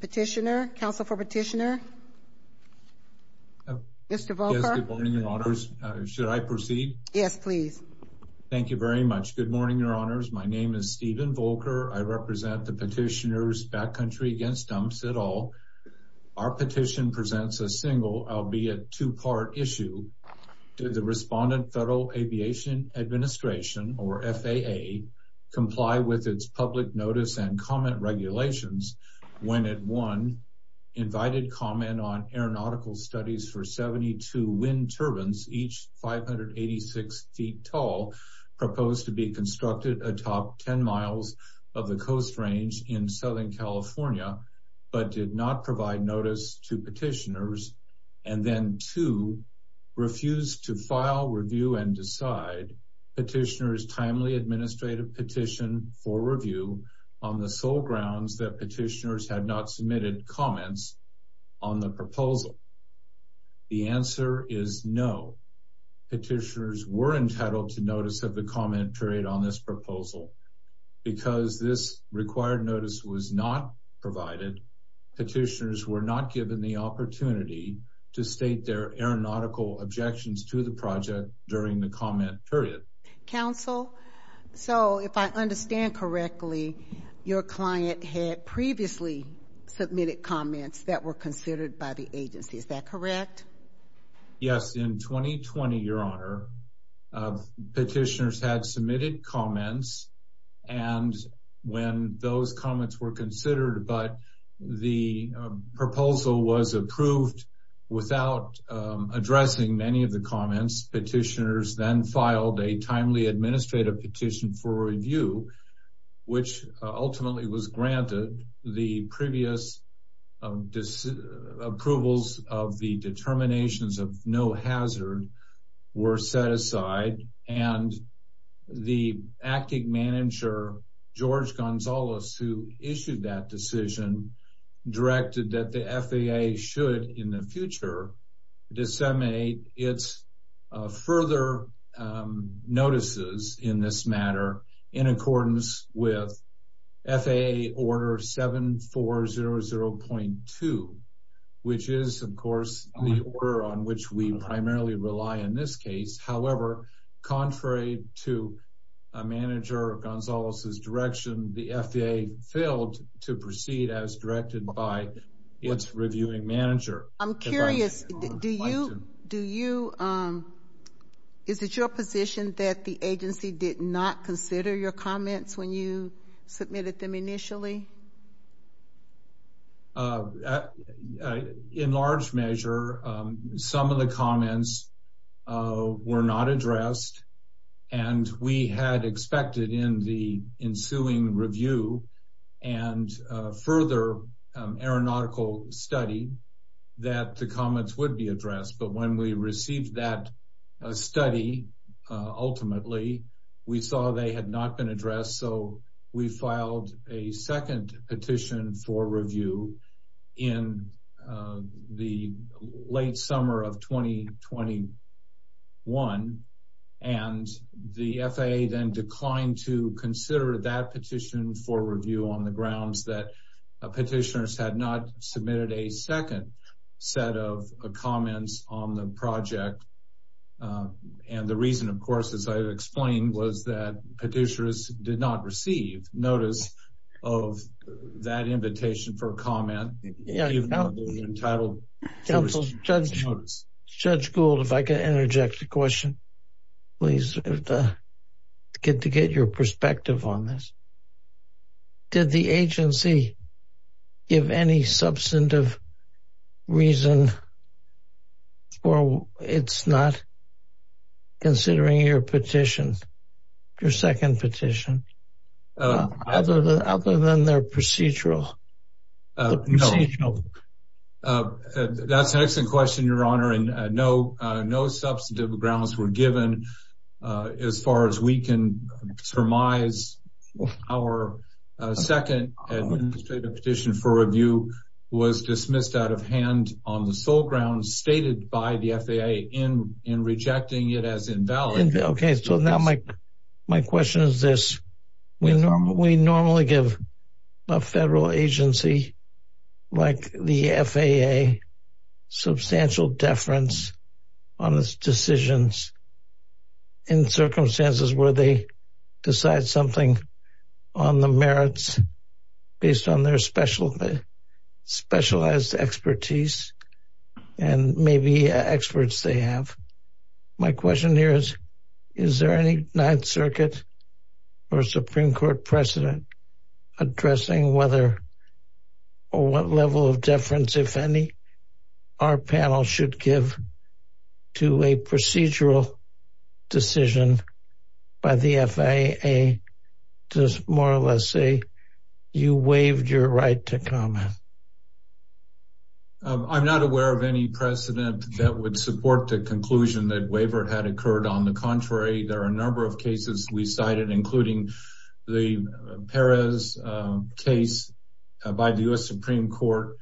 Petitioner. Council for Petitioner. Mr. Volker. Good morning, Your Honors. Should I proceed? Yes, please. Thank you very much. Good morning, Your Honors. My name is Stephen Volker. I represent the petitioners Backcountry Against Dumps et al. Our petition presents a single, albeit two-part, issue. Did the respondent Federal Aviation Administration, or FAA, comply with its public notice and comment regulations when it, one, invited comment on aeronautical studies for 72 wind turbines, each 586 feet tall, proposed to be constructed atop 10 miles of the coast range in Southern California, but did not provide notice to petitioners, and then, two, refused to file, review, and decide petitioners' timely administrative petition for review on the sole grounds that petitioners had not submitted comments on the proposal? The answer is no. Petitioners were entitled to notice of the comment period on this proposal. Because this required notice was not provided, petitioners were not given the opportunity to state their aeronautical objections to the project during the comment period. Counsel, so if I understand correctly, your client had previously submitted comments that were considered by the agency. Is that correct? Yes. In 2020, Your Honor, petitioners had submitted comments, and when those comments were considered, but the proposal was approved without addressing many of the comments, petitioners then filed a timely administrative petition for review, which ultimately was granted. The previous approvals of the determinations of no hazard were set aside, and the acting manager, George Gonzalez, who issued that decision, directed that the FAA should, in the future, disseminate its further notices in this matter in accordance with FAA Order 7400.2, which is, of course, the order on which we primarily rely in this case. However, contrary to a manager, Gonzalez's direction, the FAA failed to proceed as directed by its reviewing manager. I'm curious, do you, is it your position that the agency did not consider your comments when you submitted them to the FAA? No, the comments were not addressed, and we had expected in the ensuing review and further aeronautical study that the comments would be addressed, but when we received that study, ultimately, we saw they had not been addressed, so we filed a second petition for 2021, and the FAA then declined to consider that petition for review on the grounds that petitioners had not submitted a second set of comments on the project, and the reason, of course, as I explained, was that petitioners did not receive notice of that invitation for review. Judge Gould, if I could interject a question, please, to get your perspective on this. Did the agency give any substantive reason for its not considering your petition, your second petition, other than their procedural? No, that's an excellent question, Your Honor, and no substantive grounds were given as far as we can surmise. Our second petition for review was dismissed out of hand on the sole grounds stated by the FAA in rejecting it as invalid. Okay, so now my question is this, we normally give a federal agency like the FAA substantial deference on its decisions in circumstances where they decide something on the merits based on their specialized expertise and maybe experts they have. My question here is, is there any Ninth Circuit or Supreme Court precedent addressing whether or what level of deference, if any, our panel should give to a procedural decision by the FAA to more or less say you waived your right to comment? I'm not aware of any precedent that would support the conclusion that waiver had occurred. On the Supreme Court,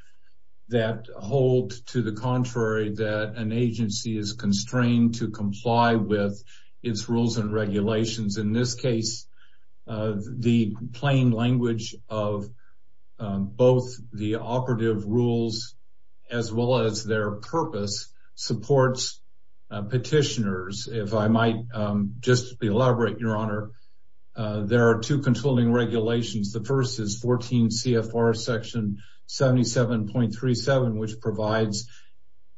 that holds to the contrary that an agency is constrained to comply with its rules and regulations. In this case, the plain language of both the operative rules as well as their purpose supports petitioners. If I might just elaborate, Your Honor, there are two controlling regulations. The first is 14 CFR section 77.37 which provides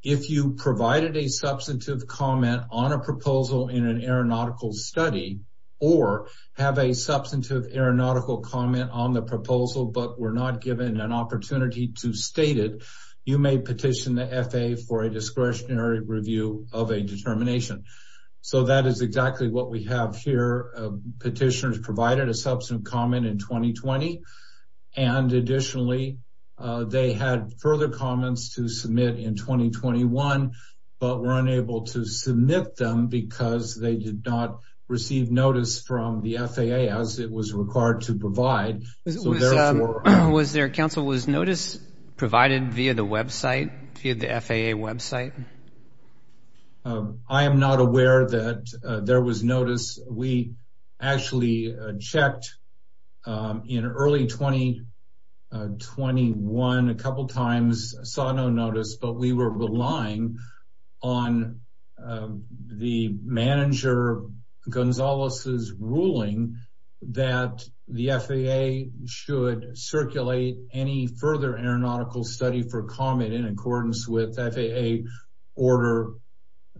if you provided a substantive comment on a proposal in an aeronautical study or have a substantive aeronautical comment on the proposal but were not given an opportunity to state it, you may petition the FAA for a discretionary review of a determination. So that is exactly what we have here. Petitioners provided a substantive comment in 2020. Additionally, they had further comments to submit in 2021 but were unable to submit them because they did not receive notice from the FAA as it was required to provide. Counsel, was notice provided via the FAA website? I am not aware that there was notice. We actually checked in early 2021 a couple times, saw no notice, but we were relying on the manager, Gonzalez's ruling that the FAA should circulate any further aeronautical study for comment in accordance with FAA order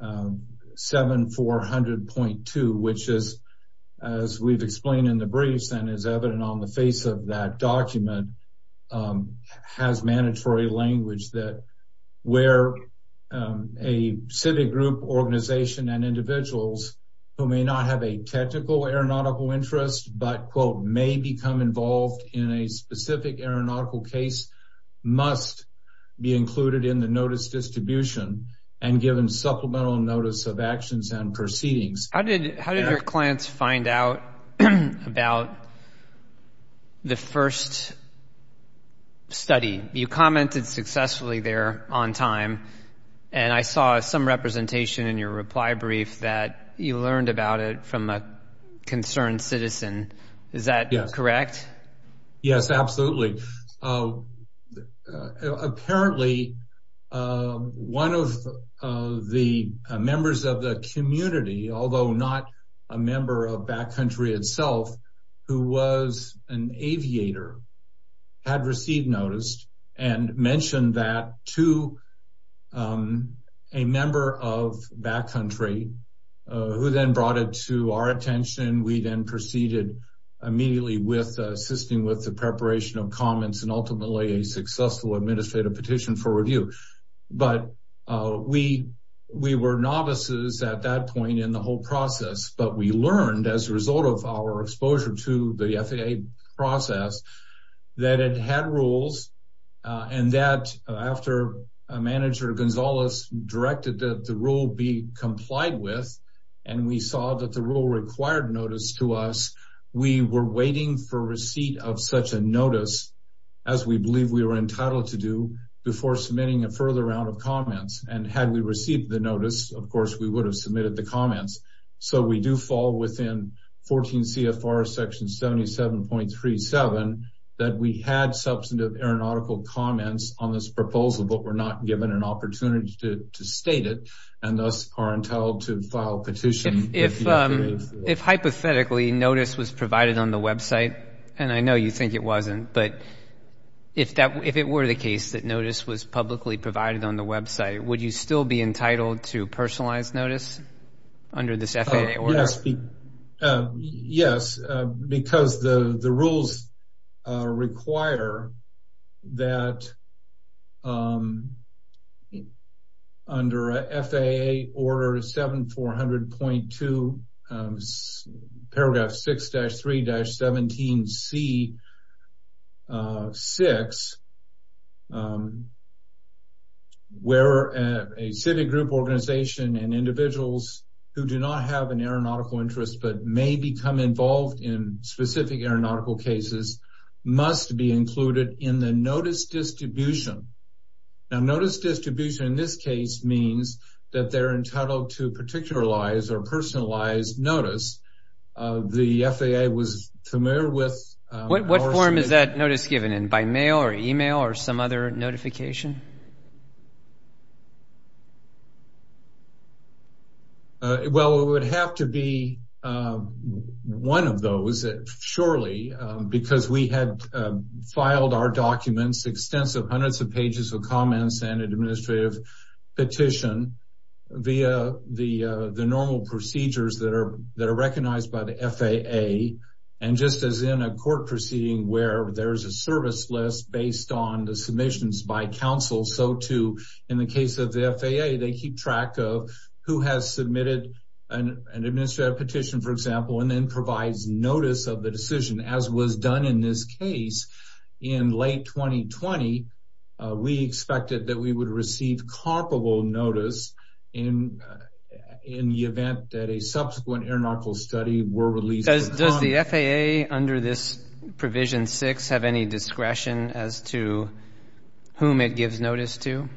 7400.2 which is, as we've explained in the briefs and is evident on the face of that document, has mandatory language that where a civic group organization and individuals who may not have a specific aeronautical case must be included in the notice distribution and given supplemental notice of actions and proceedings. How did your clients find out about the first study? You commented successfully there on time and I saw some representation in your reply brief that you learned about it from a concerned citizen. Is that correct? Yes, absolutely. Apparently, one of the members of the community, although not a member of Back Country itself, who was an aviator, had received notice and mentioned that to a member of Back Country. We were novices at that point in the whole process, but we learned as a result of our exposure to the FAA process that it had rules and that after a manager, Gonzalez, directed that the rule be complied with and we saw that the rule required notice to us, we were waiting for receipt of such a notice as we believe we were entitled to do before submitting a further round of comments. Had we received the notice, of course, we would have submitted the comments. We do fall within 14 CFR section 77.37 that we had substantive aeronautical comments on this proposal but were not given an opportunity to state it and thus are entitled to it. If notice was provided on the website, and I know you think it wasn't, but if it were the case that notice was publicly provided on the website, would you still be entitled to personalized notice under this FAA order? Yes, because the rules require that under FAA order 7400.2 paragraph 6-3-17 C6, where a civic group organization and individuals who do not have an aeronautical interest but may become involved in specific aeronautical cases must be included in the notice distribution now notice distribution in this case means that they're entitled to particularize or personalized notice. The FAA was familiar with what form is that notice given in by mail or email or some other notification? Well, it would have to be one of those surely because we had filed our documents extensive hundreds of pages of comments and administrative petition via the normal procedures that are that are recognized by the FAA. And just as in a court proceeding where there is a service list based on the submissions by counsel, so too in the case of the FAA, they keep track of who has submitted an administrative petition, for example, and then provides notice of the decision as was done in this case in late 2020. We expected that we would receive comparable notice in the event that a subsequent aeronautical study were released. Does the FAA under this provision 6 have any discretion as to whom it gives notice to?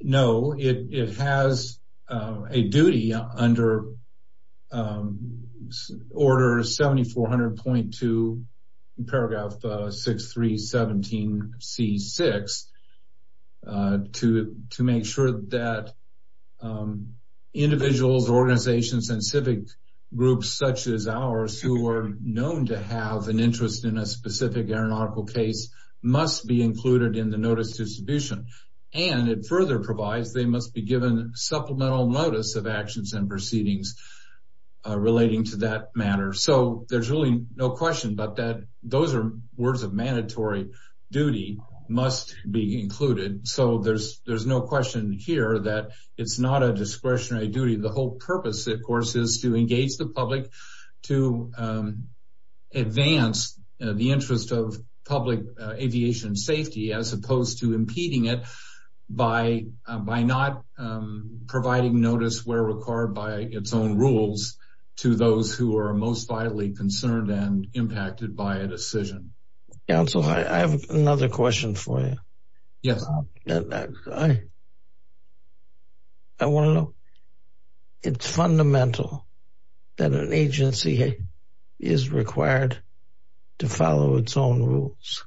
No, it has a duty under order 7400.2 paragraph 6 3 17 c 6 to to make sure that individuals organizations and civic groups such as ours who are known to have an interest in a specific aeronautical case must be included in the notice distribution. And it further provides they must be given supplemental notice of actions and proceedings relating to that matter. So there's really no question but that those are words of mandatory duty must be included. So there's there's no question here that it's not a discretionary duty. The whole purpose, of course, is to engage the public to advance the interest of public aviation safety as opposed to impeding it by by not providing notice where required by its own rules to those who are most vitally concerned and impacted by a decision. Council, I have another question for you. Yes. I want to know, it's fundamental that an agency is required to follow its own rules.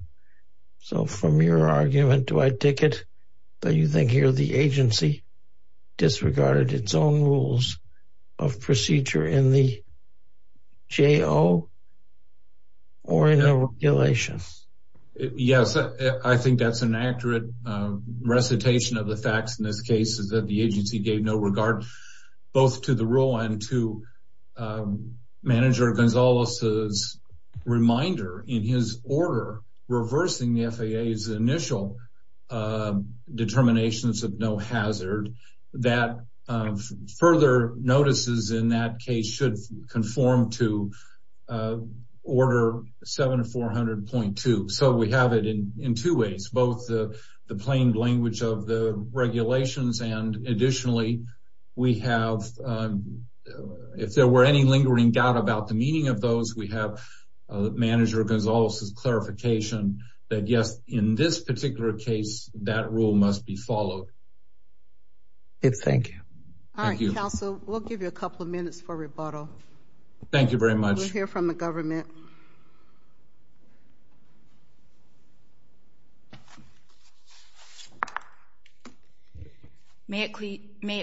So from your argument, do I take it that you think here the agency disregarded its own rules of procedure in the J.O. or in our regulations? Yes, I think that's an accurate recitation of the facts in this case is that the agency gave no regard both to the rule and to Manager Gonzalez's reminder in his order reversing the FAA's initial determinations of no hazard that further notices in that case should conform to Order 7400.2. So we have it in two ways, both the plain language of the regulations and additionally we have, if there were any lingering doubt about the meaning of those, we have Manager Gonzalez's clarification that yes, in this particular case that rule must be followed. Thank you. All right, Council, we'll give you a couple of minutes for rebuttal. Thank you very much. We'll hear from the government. May it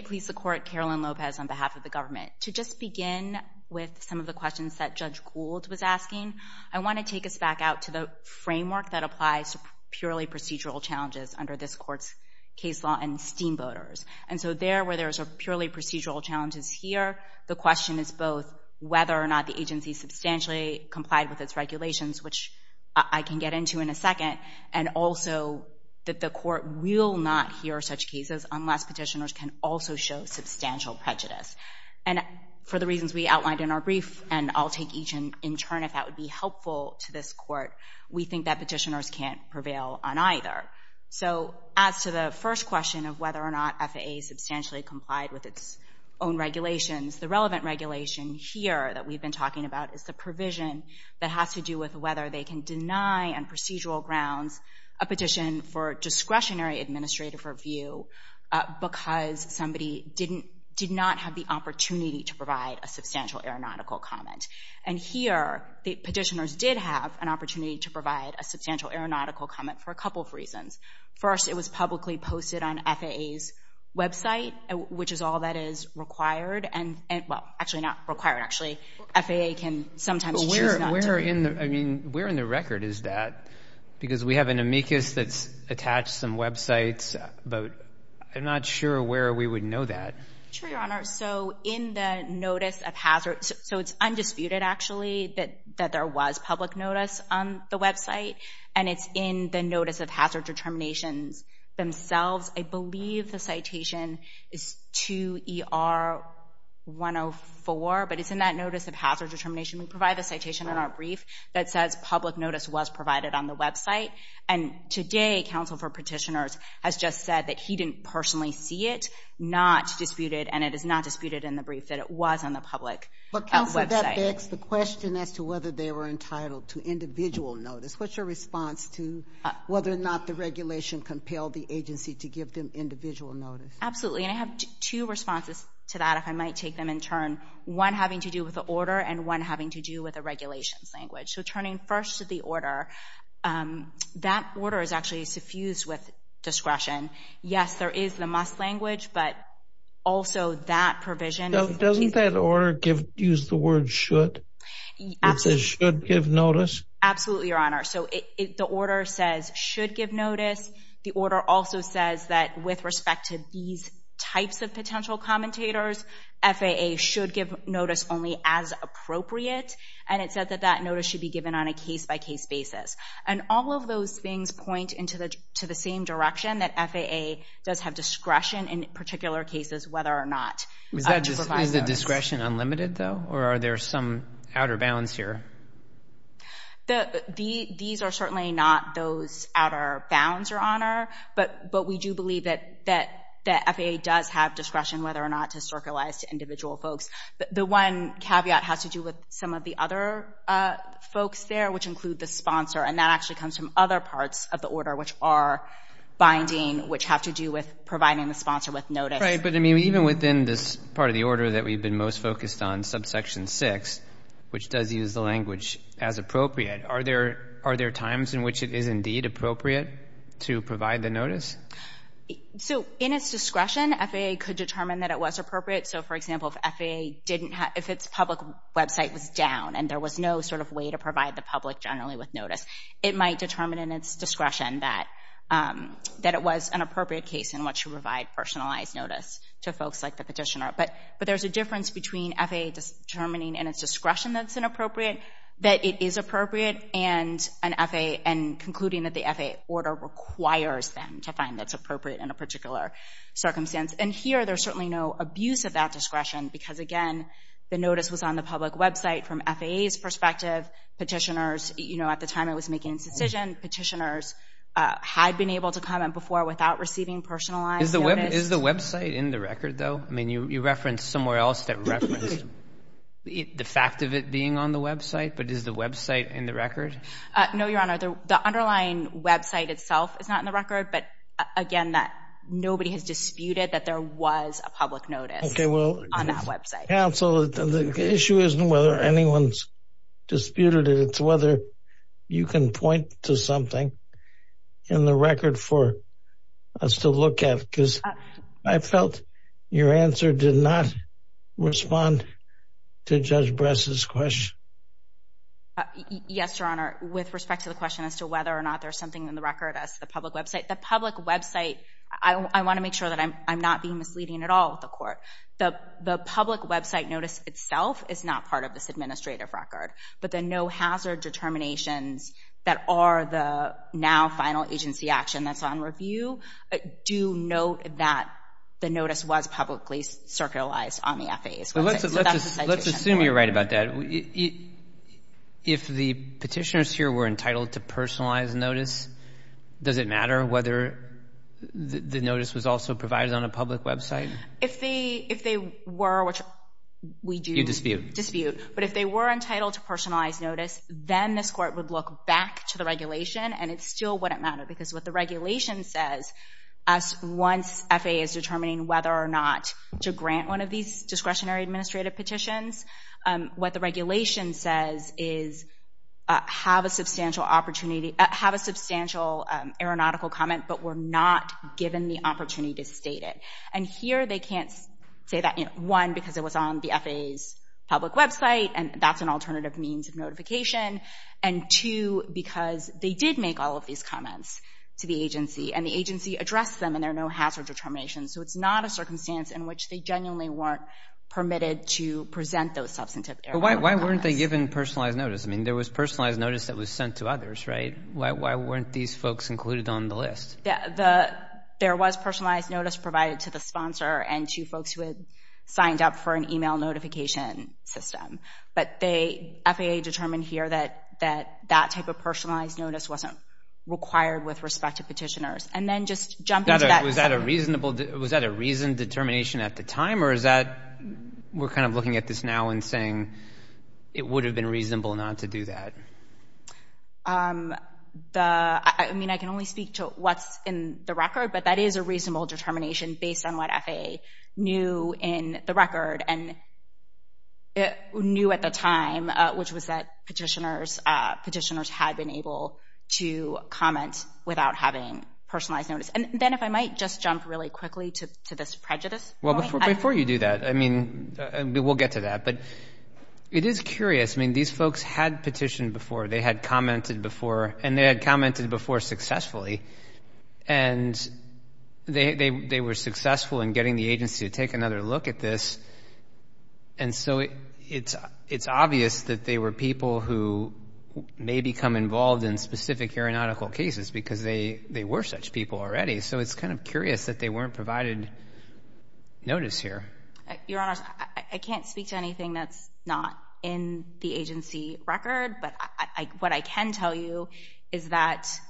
please the court, Carolyn Lopez on behalf of the government. To just begin with some of the questions that Judge Gould was asking, I want to take us back out to the framework that applies to purely procedural challenges under this court's case law and steamboaters. And so there where there's a purely procedural challenges here, the question is both whether or not the agency substantially complied with its regulations, which I can get into in a second, and also that the court will not hear such cases unless petitioners can also show substantial prejudice. And for the reasons we outlined in our brief, and I'll take each in turn if that would be helpful to this court, we think that petitioners can't prevail on either. So as to the first question of whether or not FAA substantially complied with its own regulations, the relevant regulation here that we've been talking about is the provision that has to do with whether they can deny on procedural grounds a petition for discretionary administrative review because somebody did not have the opportunity to provide a substantial aeronautical comment. And here, the petitioners did have an opportunity to provide a substantial aeronautical comment for a couple of reasons. First, it was publicly posted on FAA's website, which is all that is required, and well, actually not required, actually. FAA can sometimes choose not to. But where in the record is that? Because we have an amicus that's attached some websites but I'm not sure where we would know that. Sure, Your Honor. So in the notice of hazard, so it's undisputed actually that there was public notice on the website, and it's in the notice of hazard determinations themselves. I believe the citation is 2ER104, but it's in that notice of hazard determination. We provide the citation in our brief that says public notice was provided on the website, and today, counsel for petitioners has just said that he didn't personally see it, not disputed, and it is not disputed in the brief that it was on the public website. But counsel, that begs the question as to whether they were entitled to individual notice. What's your response to whether or not the regulation compelled the agency to give them individual notice? Absolutely, and I have two responses to that, if I might take them in turn, one having to do with the order and one having to do with the regulations language. So turning first to the order, that order is actually suffused with discretion. Yes, there is the must language, but also that provision. Doesn't that order use the word should? It says should give notice? Absolutely, Your Honor. So the order says should give notice. The order also says that with respect to these types of potential commentators, FAA should give notice only as appropriate, and it said that that notice should be given on a case-by-case basis. And all of those things point into the same direction that FAA does have discretion in particular cases whether or not to provide notice. Is the discretion unlimited, though, or are there some outer bounds here? These are certainly not those outer bounds, Your Honor, but we do believe that FAA does have discretion whether or not to circularize to individual folks. The one caveat has to do with some of the other folks there, which include the sponsor, and that actually comes from other parts of the order which are binding, which have to do with providing the sponsor with notice. Right, but even within this part of the order that we've been most focused on, subsection 6, which does use the language as appropriate, are there times in which it is indeed appropriate to provide the notice? So in its discretion, FAA could determine that it was appropriate. So for example, if FAA didn't have, if its public website was down and there was no sort of way to provide the public generally with notice, it might determine in its discretion that it was an appropriate case in which to provide personalized notice to folks like the petitioner. But there's a difference between FAA determining in its discretion that it's inappropriate, that it is appropriate, and concluding that the FAA order requires them to There's certainly no abuse of that discretion, because again, the notice was on the public website from FAA's perspective. Petitioners, you know, at the time it was making its decision, petitioners had been able to come in before without receiving personalized notice. Is the website in the record, though? I mean, you referenced somewhere else that referenced the fact of it being on the website, but is the website in the record? No, Your Honor, the underlying website itself is not in the record, but again, that nobody has a public notice on that website. Okay, well, counsel, the issue isn't whether anyone's disputed it, it's whether you can point to something in the record for us to look at, because I felt your answer did not respond to Judge Bress's question. Yes, Your Honor, with respect to the question as to whether or not there's something in the record the public website, I want to make sure that I'm not being misleading at all with the court. The public website notice itself is not part of this administrative record, but the no hazard determinations that are the now final agency action that's on review do note that the notice was publicly circulated on the FAA's website. Let's assume you're right about that. If the petitioners here were entitled to personalized notice, does it matter whether the notice was also provided on a public website? If they were, which we do dispute, but if they were entitled to personalized notice, then this court would look back to the regulation, and it still wouldn't matter, because what the regulation says, once FAA is determining whether or not to grant one of these substantial aeronautical comment, but were not given the opportunity to state it. And here they can't say that, one, because it was on the FAA's public website, and that's an alternative means of notification, and two, because they did make all of these comments to the agency, and the agency addressed them, and there are no hazard determinations, so it's not a circumstance in which they genuinely weren't permitted to present those substantive aeronautical comments. But why weren't they given personalized notice? I mean, there was personalized notice that was sent to others, right? Why weren't these folks included on the list? There was personalized notice provided to the sponsor and to folks who had signed up for an email notification system, but FAA determined here that that type of personalized notice wasn't required with respect to petitioners. And then just jump into that. Was that a reason determination at the time, or is that, we're kind of looking at this now and it would have been reasonable not to do that? The, I mean, I can only speak to what's in the record, but that is a reasonable determination based on what FAA knew in the record and knew at the time, which was that petitioners had been able to comment without having personalized notice. And then if I might just jump really quickly to this prejudice point. Before you do that, I mean, we'll get to that, but it is curious. I mean, these folks had petitioned before, they had commented before, and they had commented before successfully. And they were successful in getting the agency to take another look at this. And so it's obvious that they were people who may become involved in specific aeronautical cases because they were such people already. So it's kind of curious that they weren't provided notice here. Your honors, I can't speak to anything that's not in the agency record, but what I can tell you is that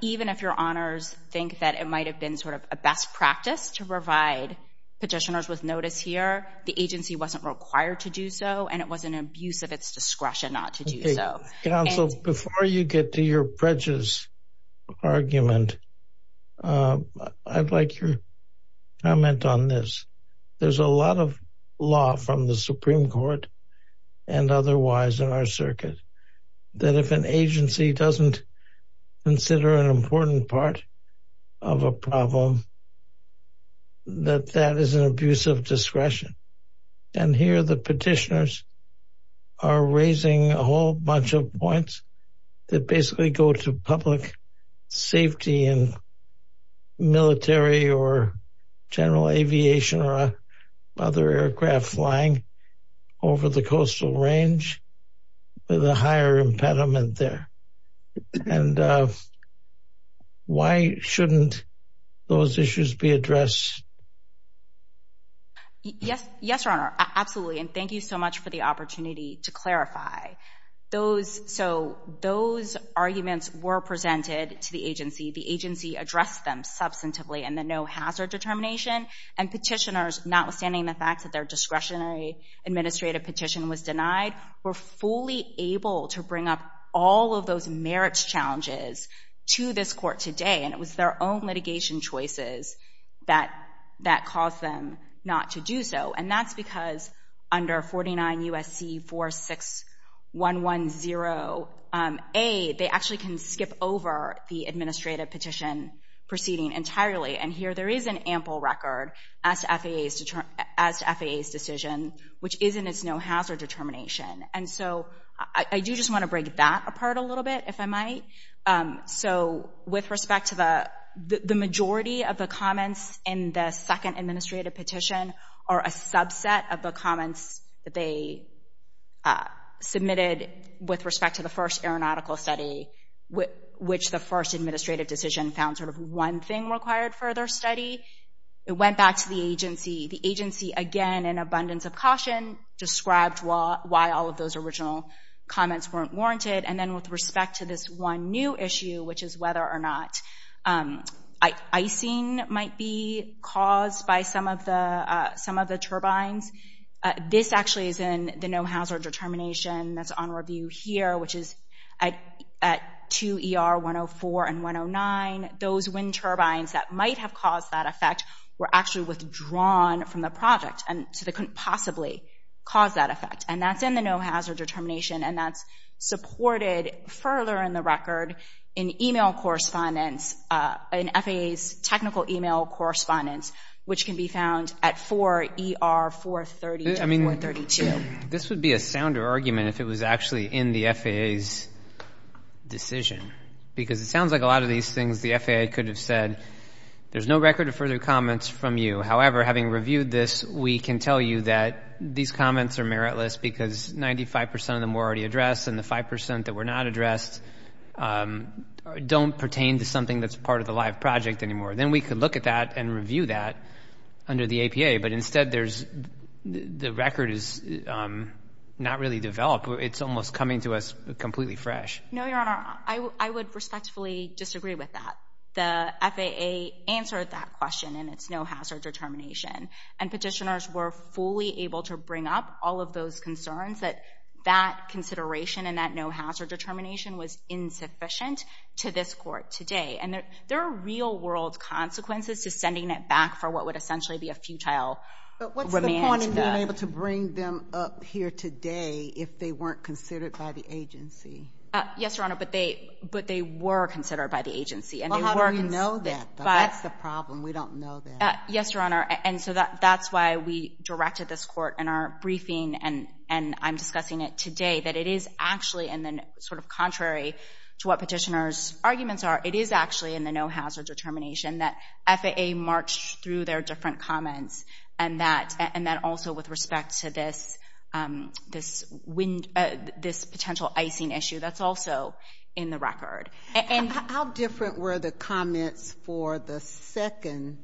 even if your honors think that it might have been sort of a best practice to provide petitioners with notice here, the agency wasn't required to do so, and it was an abuse of its discretion not to do so. Counsel, before you get to your prejudice argument, I'd like your comment on this. There's a lot of law from the Supreme Court and otherwise in our circuit that if an agency doesn't consider an important part of a problem, that that is an abuse of discretion. And here the petitioners are raising a whole bunch of points that basically go to public safety and military or general aviation or other aircraft flying over the coastal range with a higher impediment there. And why shouldn't those issues be addressed? Yes. Yes, your honor. Absolutely. And thank you so much for the opportunity to clarify those. So those arguments were presented to the agency. The agency addressed them substantively in the no hazard determination and petitioners, notwithstanding the fact that their discretionary administrative petition was denied, were fully able to bring up all of those merits challenges to this court today. And it was their own litigation choices that caused them not to do so. And that's because under 49 U.S.C. 46110A, they actually can skip over the administrative petition proceeding entirely. And here there is an ample record as to FAA's decision, which is in its no hazard determination. And so I do just want to break that apart a little bit, if I might, so with respect to the majority of the comments in the second administrative petition are a subset of the comments that they submitted with respect to the first aeronautical study, which the first administrative decision found sort of one thing required for their study. It went back to the agency. The agency, again, in abundance of caution, described why all of those original comments weren't warranted. And then with respect to this one new issue, which is whether or not icing might be caused by some of the turbines, this actually is in the no hazard determination that's on review here, which is at 2 ER 104 and 109. Those wind turbines that might have caused that effect were actually withdrawn from the project. And so they couldn't possibly cause that effect. And that's in the no hazard determination. And that's supported further in the record in email correspondence, in FAA's technical email correspondence, which can be found at 4 ER 430. I mean, this would be a sounder argument if it was actually in the FAA's decision, because it sounds like a lot of these things the FAA could have said, there's no record of further comments from you. However, having reviewed this, we can tell you that these comments are meritless because 95% of them were already addressed and the 5% that were not addressed don't pertain to something that's part of the live project anymore. Then we could look at that and review that under the APA. But instead, the record is not really developed. It's almost coming to us completely fresh. No, Your Honor, I would respectfully disagree with that. The FAA answered that question, and it's no hazard determination. And petitioners were fully able to bring up all of those concerns that that consideration and that no hazard determination was insufficient to this court today. And there are real world consequences to sending it back for what would essentially be a futile remand. But what's the point in being able to bring them up here today if they weren't considered by the agency? Yes, Your Honor, but they were considered by the agency. Well, how do we know that? That's the problem. We don't know that. Yes, Your Honor. And so that's why we directed this court in our briefing, and I'm discussing it today, that it is actually sort of contrary to what petitioners' arguments are. It is actually in the no hazard determination that FAA marched through their different comments and that also with respect to this wind, this potential icing issue, that's also in the record. And how different were the comments for the second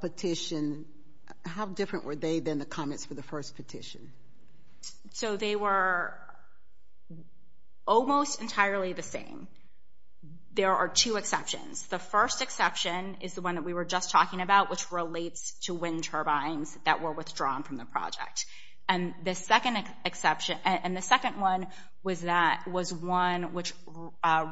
petition? How different were they than the comments for the first petition? So they were almost entirely the same. There are two exceptions. The first exception is the one that we were just talking about, which relates to wind turbines that were withdrawn from the project. And the second exception, and the second one was that, was one which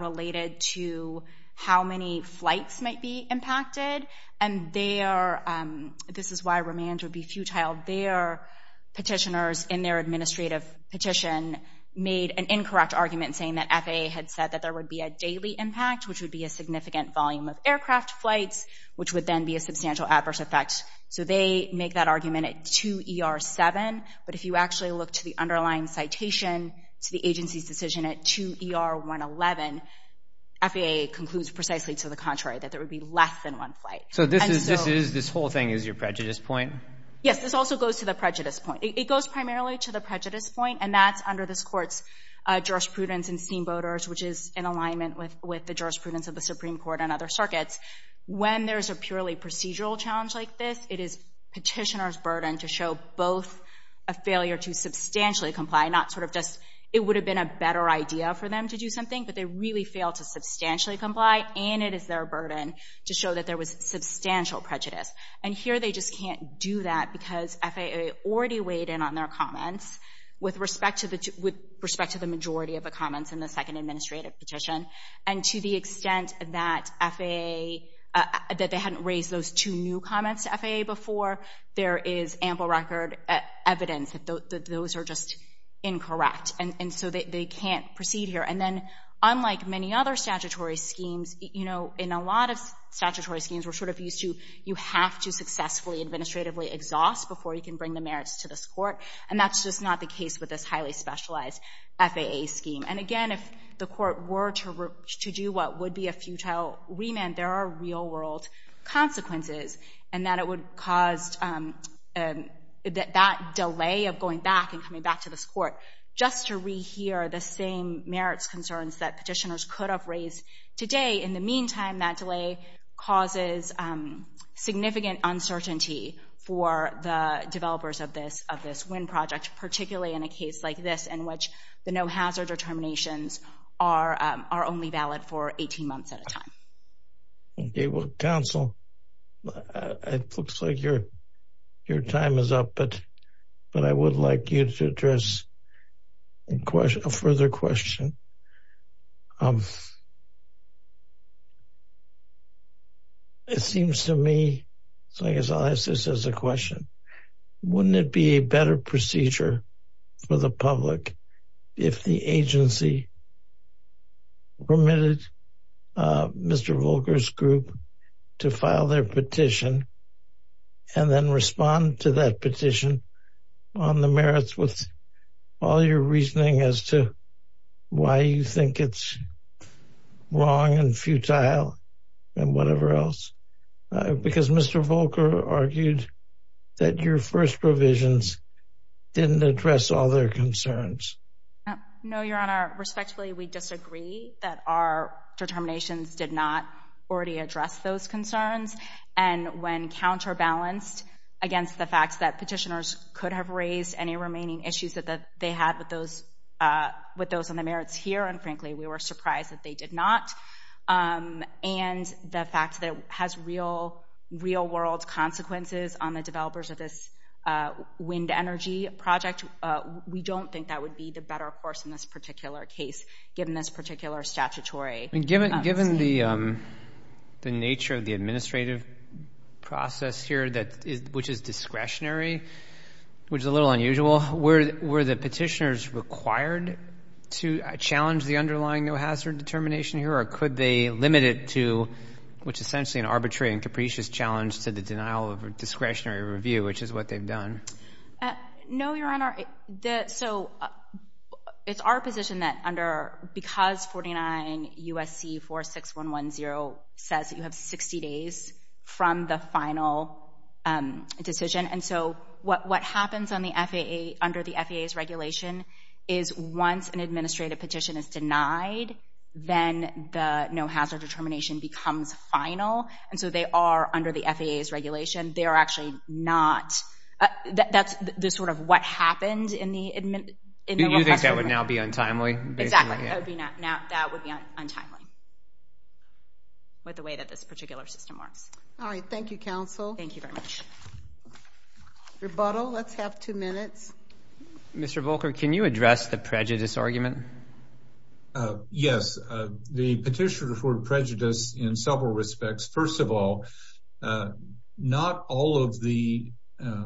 related to how many flights might be impacted. And this is why remands would be futile. Their petitioners in their administrative petition made an incorrect argument saying that FAA had said that there would be a daily impact, which would be a significant volume of aircraft flights, which would then be a substantial adverse effect. So they make that argument at 2 ER 7, but if you actually look to the underlying citation to the agency's decision at 2 ER 111, FAA concludes precisely to the contrary, that there would be less than one flight. So this whole thing is your prejudice point? Yes, this also goes to the prejudice point. It goes primarily to the prejudice point, and that's under this court's jurisprudence in steamboaters, which is in alignment with the jurisprudence of the Supreme Court and other circuits. When there's a purely procedural challenge like this, it is petitioners' burden to show both a failure to substantially comply, not sort of just, it would have been a better idea for them to do something, but they really failed to substantially comply, and it is their burden to show that there was substantial prejudice. And here they just can't do that because FAA already weighed in on their comments with respect to the majority of the comments in the second administrative petition, and to the extent that FAA, that they hadn't raised those two new comments to FAA before, there is ample record evidence that those are just incorrect, and so they can't proceed here. And then unlike many other statutory schemes, you know, in a lot of statutory schemes, we're sort of used to, you have to successfully administratively exhaust before you can bring the merits to this court, and that's just not the case with this highly specialized FAA scheme. And again, if the court were to do what would be a futile remand, there are real-world consequences, and that it would cause that delay of going back and coming back to this court just to rehear the same merits concerns that petitioners could have raised today. In the meantime, that delay causes significant uncertainty for the developers of this WIN project, particularly in a case like this in which the no-hazard determinations are only valid for 18 months at a time. Okay. Well, counsel, it looks like your time is up, but I would like you to address a further question. It seems to me, so I guess I'll ask this as a question. Wouldn't it be a better procedure for the public if the agency permitted Mr. Volker's group to file their petition and then respond to that petition on the merits with all your reasoning as to why you think it's wrong and futile and whatever else? Because Mr. Volker argued that your first provisions didn't address all their concerns. No, Your Honor. Respectfully, we disagree that our determinations did not already address those concerns, and when counterbalanced against the fact that petitioners could have raised any remaining issues that they had with those on the merits here, and frankly, we were surprised that they did not, and the fact that it has real-world consequences on the developers of this WIND Energy project, we don't think that would be the better course in this particular case, given this particular statutory scheme. Given the nature of the administrative process here, which is discretionary, which is a little unusual, were the petitioners required to challenge the underlying no-hazard determination here, or could they limit it to, which is essentially an arbitrary and capricious challenge, to the denial of a discretionary review, which is what they've done? No, Your Honor. So it's our position that because 49 U.S.C. 46110 says that you have 60 days from the final decision, and so what happens under the FAA's regulation is once an administrative petition is denied, then the no-hazard determination becomes final, and so they are, under the FAA's regulation, they are actually not, that's the sort of what happened in the request for review. Do you think that would now be untimely? Exactly. That would be untimely with the way that this particular system works. All right. Thank you, counsel. Thank you very much. Rebuttal. Let's have two minutes. Mr. Volker, can you address the prejudice argument? Yes. The petitioners were prejudiced in several respects. First of all, not all of the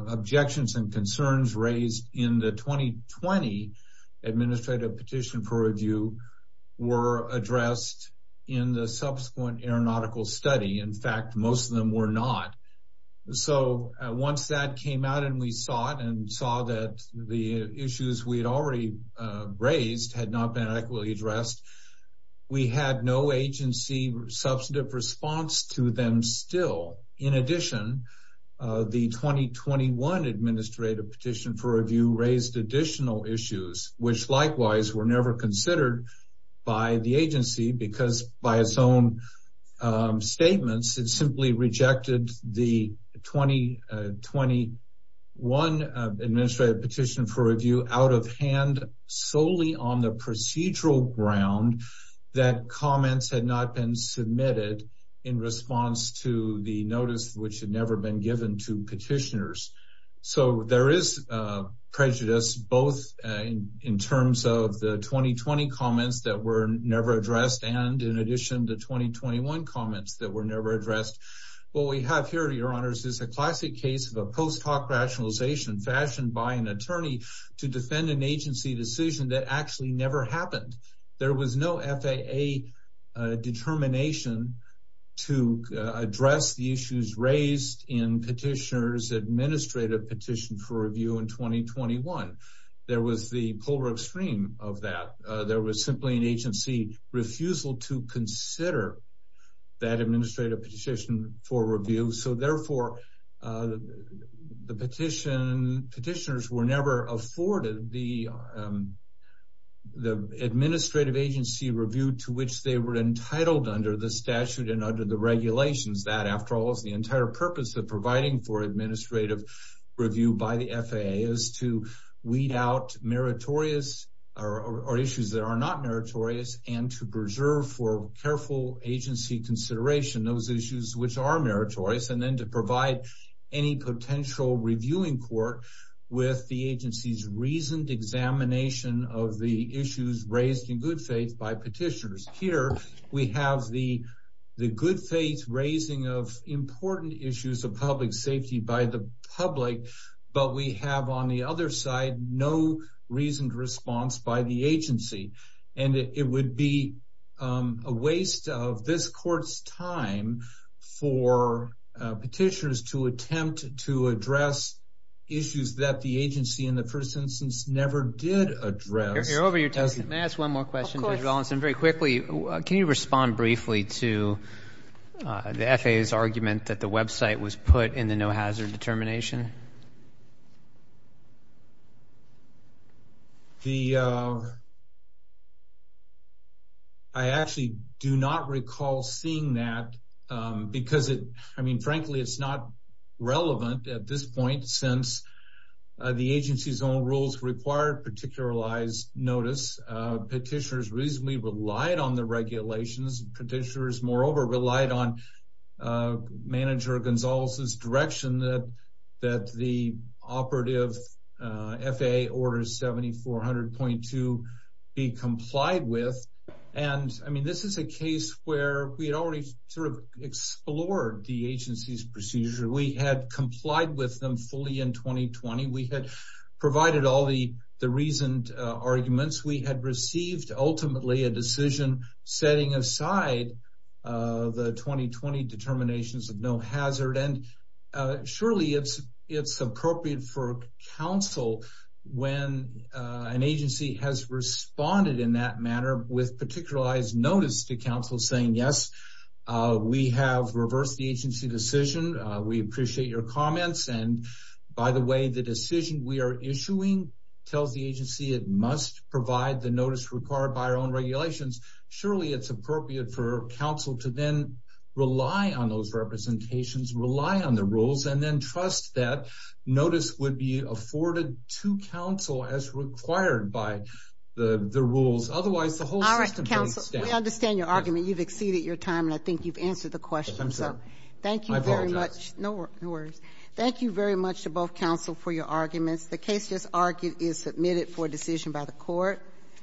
objections and concerns raised in the 2020 administrative petition for review were addressed in the subsequent aeronautical study. In fact, most of them were not. So once that came out and we saw it and saw that the issues we'd already raised had not been adequately addressed, we had no agency substantive response to them still. In addition, the 2021 administrative petition for review raised additional issues, which likewise were never considered by the agency because, by its own statements, it simply rejected the 2021 administrative petition for review out of hand solely on the procedural ground that comments had not been addressed. There is prejudice both in terms of the 2020 comments that were never addressed and, in addition, the 2021 comments that were never addressed. What we have here, Your Honors, is a classic case of a post hoc rationalization fashioned by an attorney to defend an agency decision that actually never happened. There was no FAA determination to address the issues raised in the petitioner's administrative petition for review in 2021. There was the polar extreme of that. There was simply an agency refusal to consider that administrative petition for review. So, therefore, the petitioners were never afforded the administrative agency review to which they were entitled under the statute and under the regulations. That, after all, the entire purpose of providing for administrative review by the FAA is to weed out issues that are not meritorious and to preserve for careful agency consideration those issues which are meritorious and then to provide any potential reviewing court with the agency's reasoned examination of the issues raised in good faith by petitioners. Here we have the good faith raising of important issues of public safety by the public, but we have, on the other side, no reasoned response by the agency. And it would be a waste of this court's time for petitioners to attempt to address issues that the agency, in the first instance, never did address. You're over your time. May I ask one more question, Judge Rollinson? Very quickly, can you respond briefly to the FAA's argument that the website was put in the no-hazard determination? I actually do not recall seeing that because it, I mean, frankly, it's not relevant at this point since the agency's own rules required particularized notice. Petitioners reasonably relied on the regulations. Petitioners, moreover, relied on Manager Gonzalez's direction that the operative FAA Order 7400.2 be complied with. And, I mean, this is a case where we had already sort of explored the agency's procedure. We had complied with them fully in 2020. We had provided all the reasoned arguments. We had received, ultimately, a decision setting aside the 2020 determinations of no hazard. And, surely, it's appropriate for counsel when an agency has responded in that manner with particularized notice to counsel saying, yes, we have reversed the agency decision. We appreciate your comments. And, by the way, the decision we are issuing tells the agency it must provide the notice required by our own regulations. Surely, it's appropriate for counsel to then rely on those representations, rely on the rules, and then trust that notice would be afforded to counsel as required by the rules. Otherwise, the whole system... All right, counsel, we understand your argument. You've exceeded your time, and I think you've answered the question. I'm sorry. Thank you very much. I apologize. No worries. Thank you very much to both counsel for your arguments. The case just argued is submitted for decision by the Court.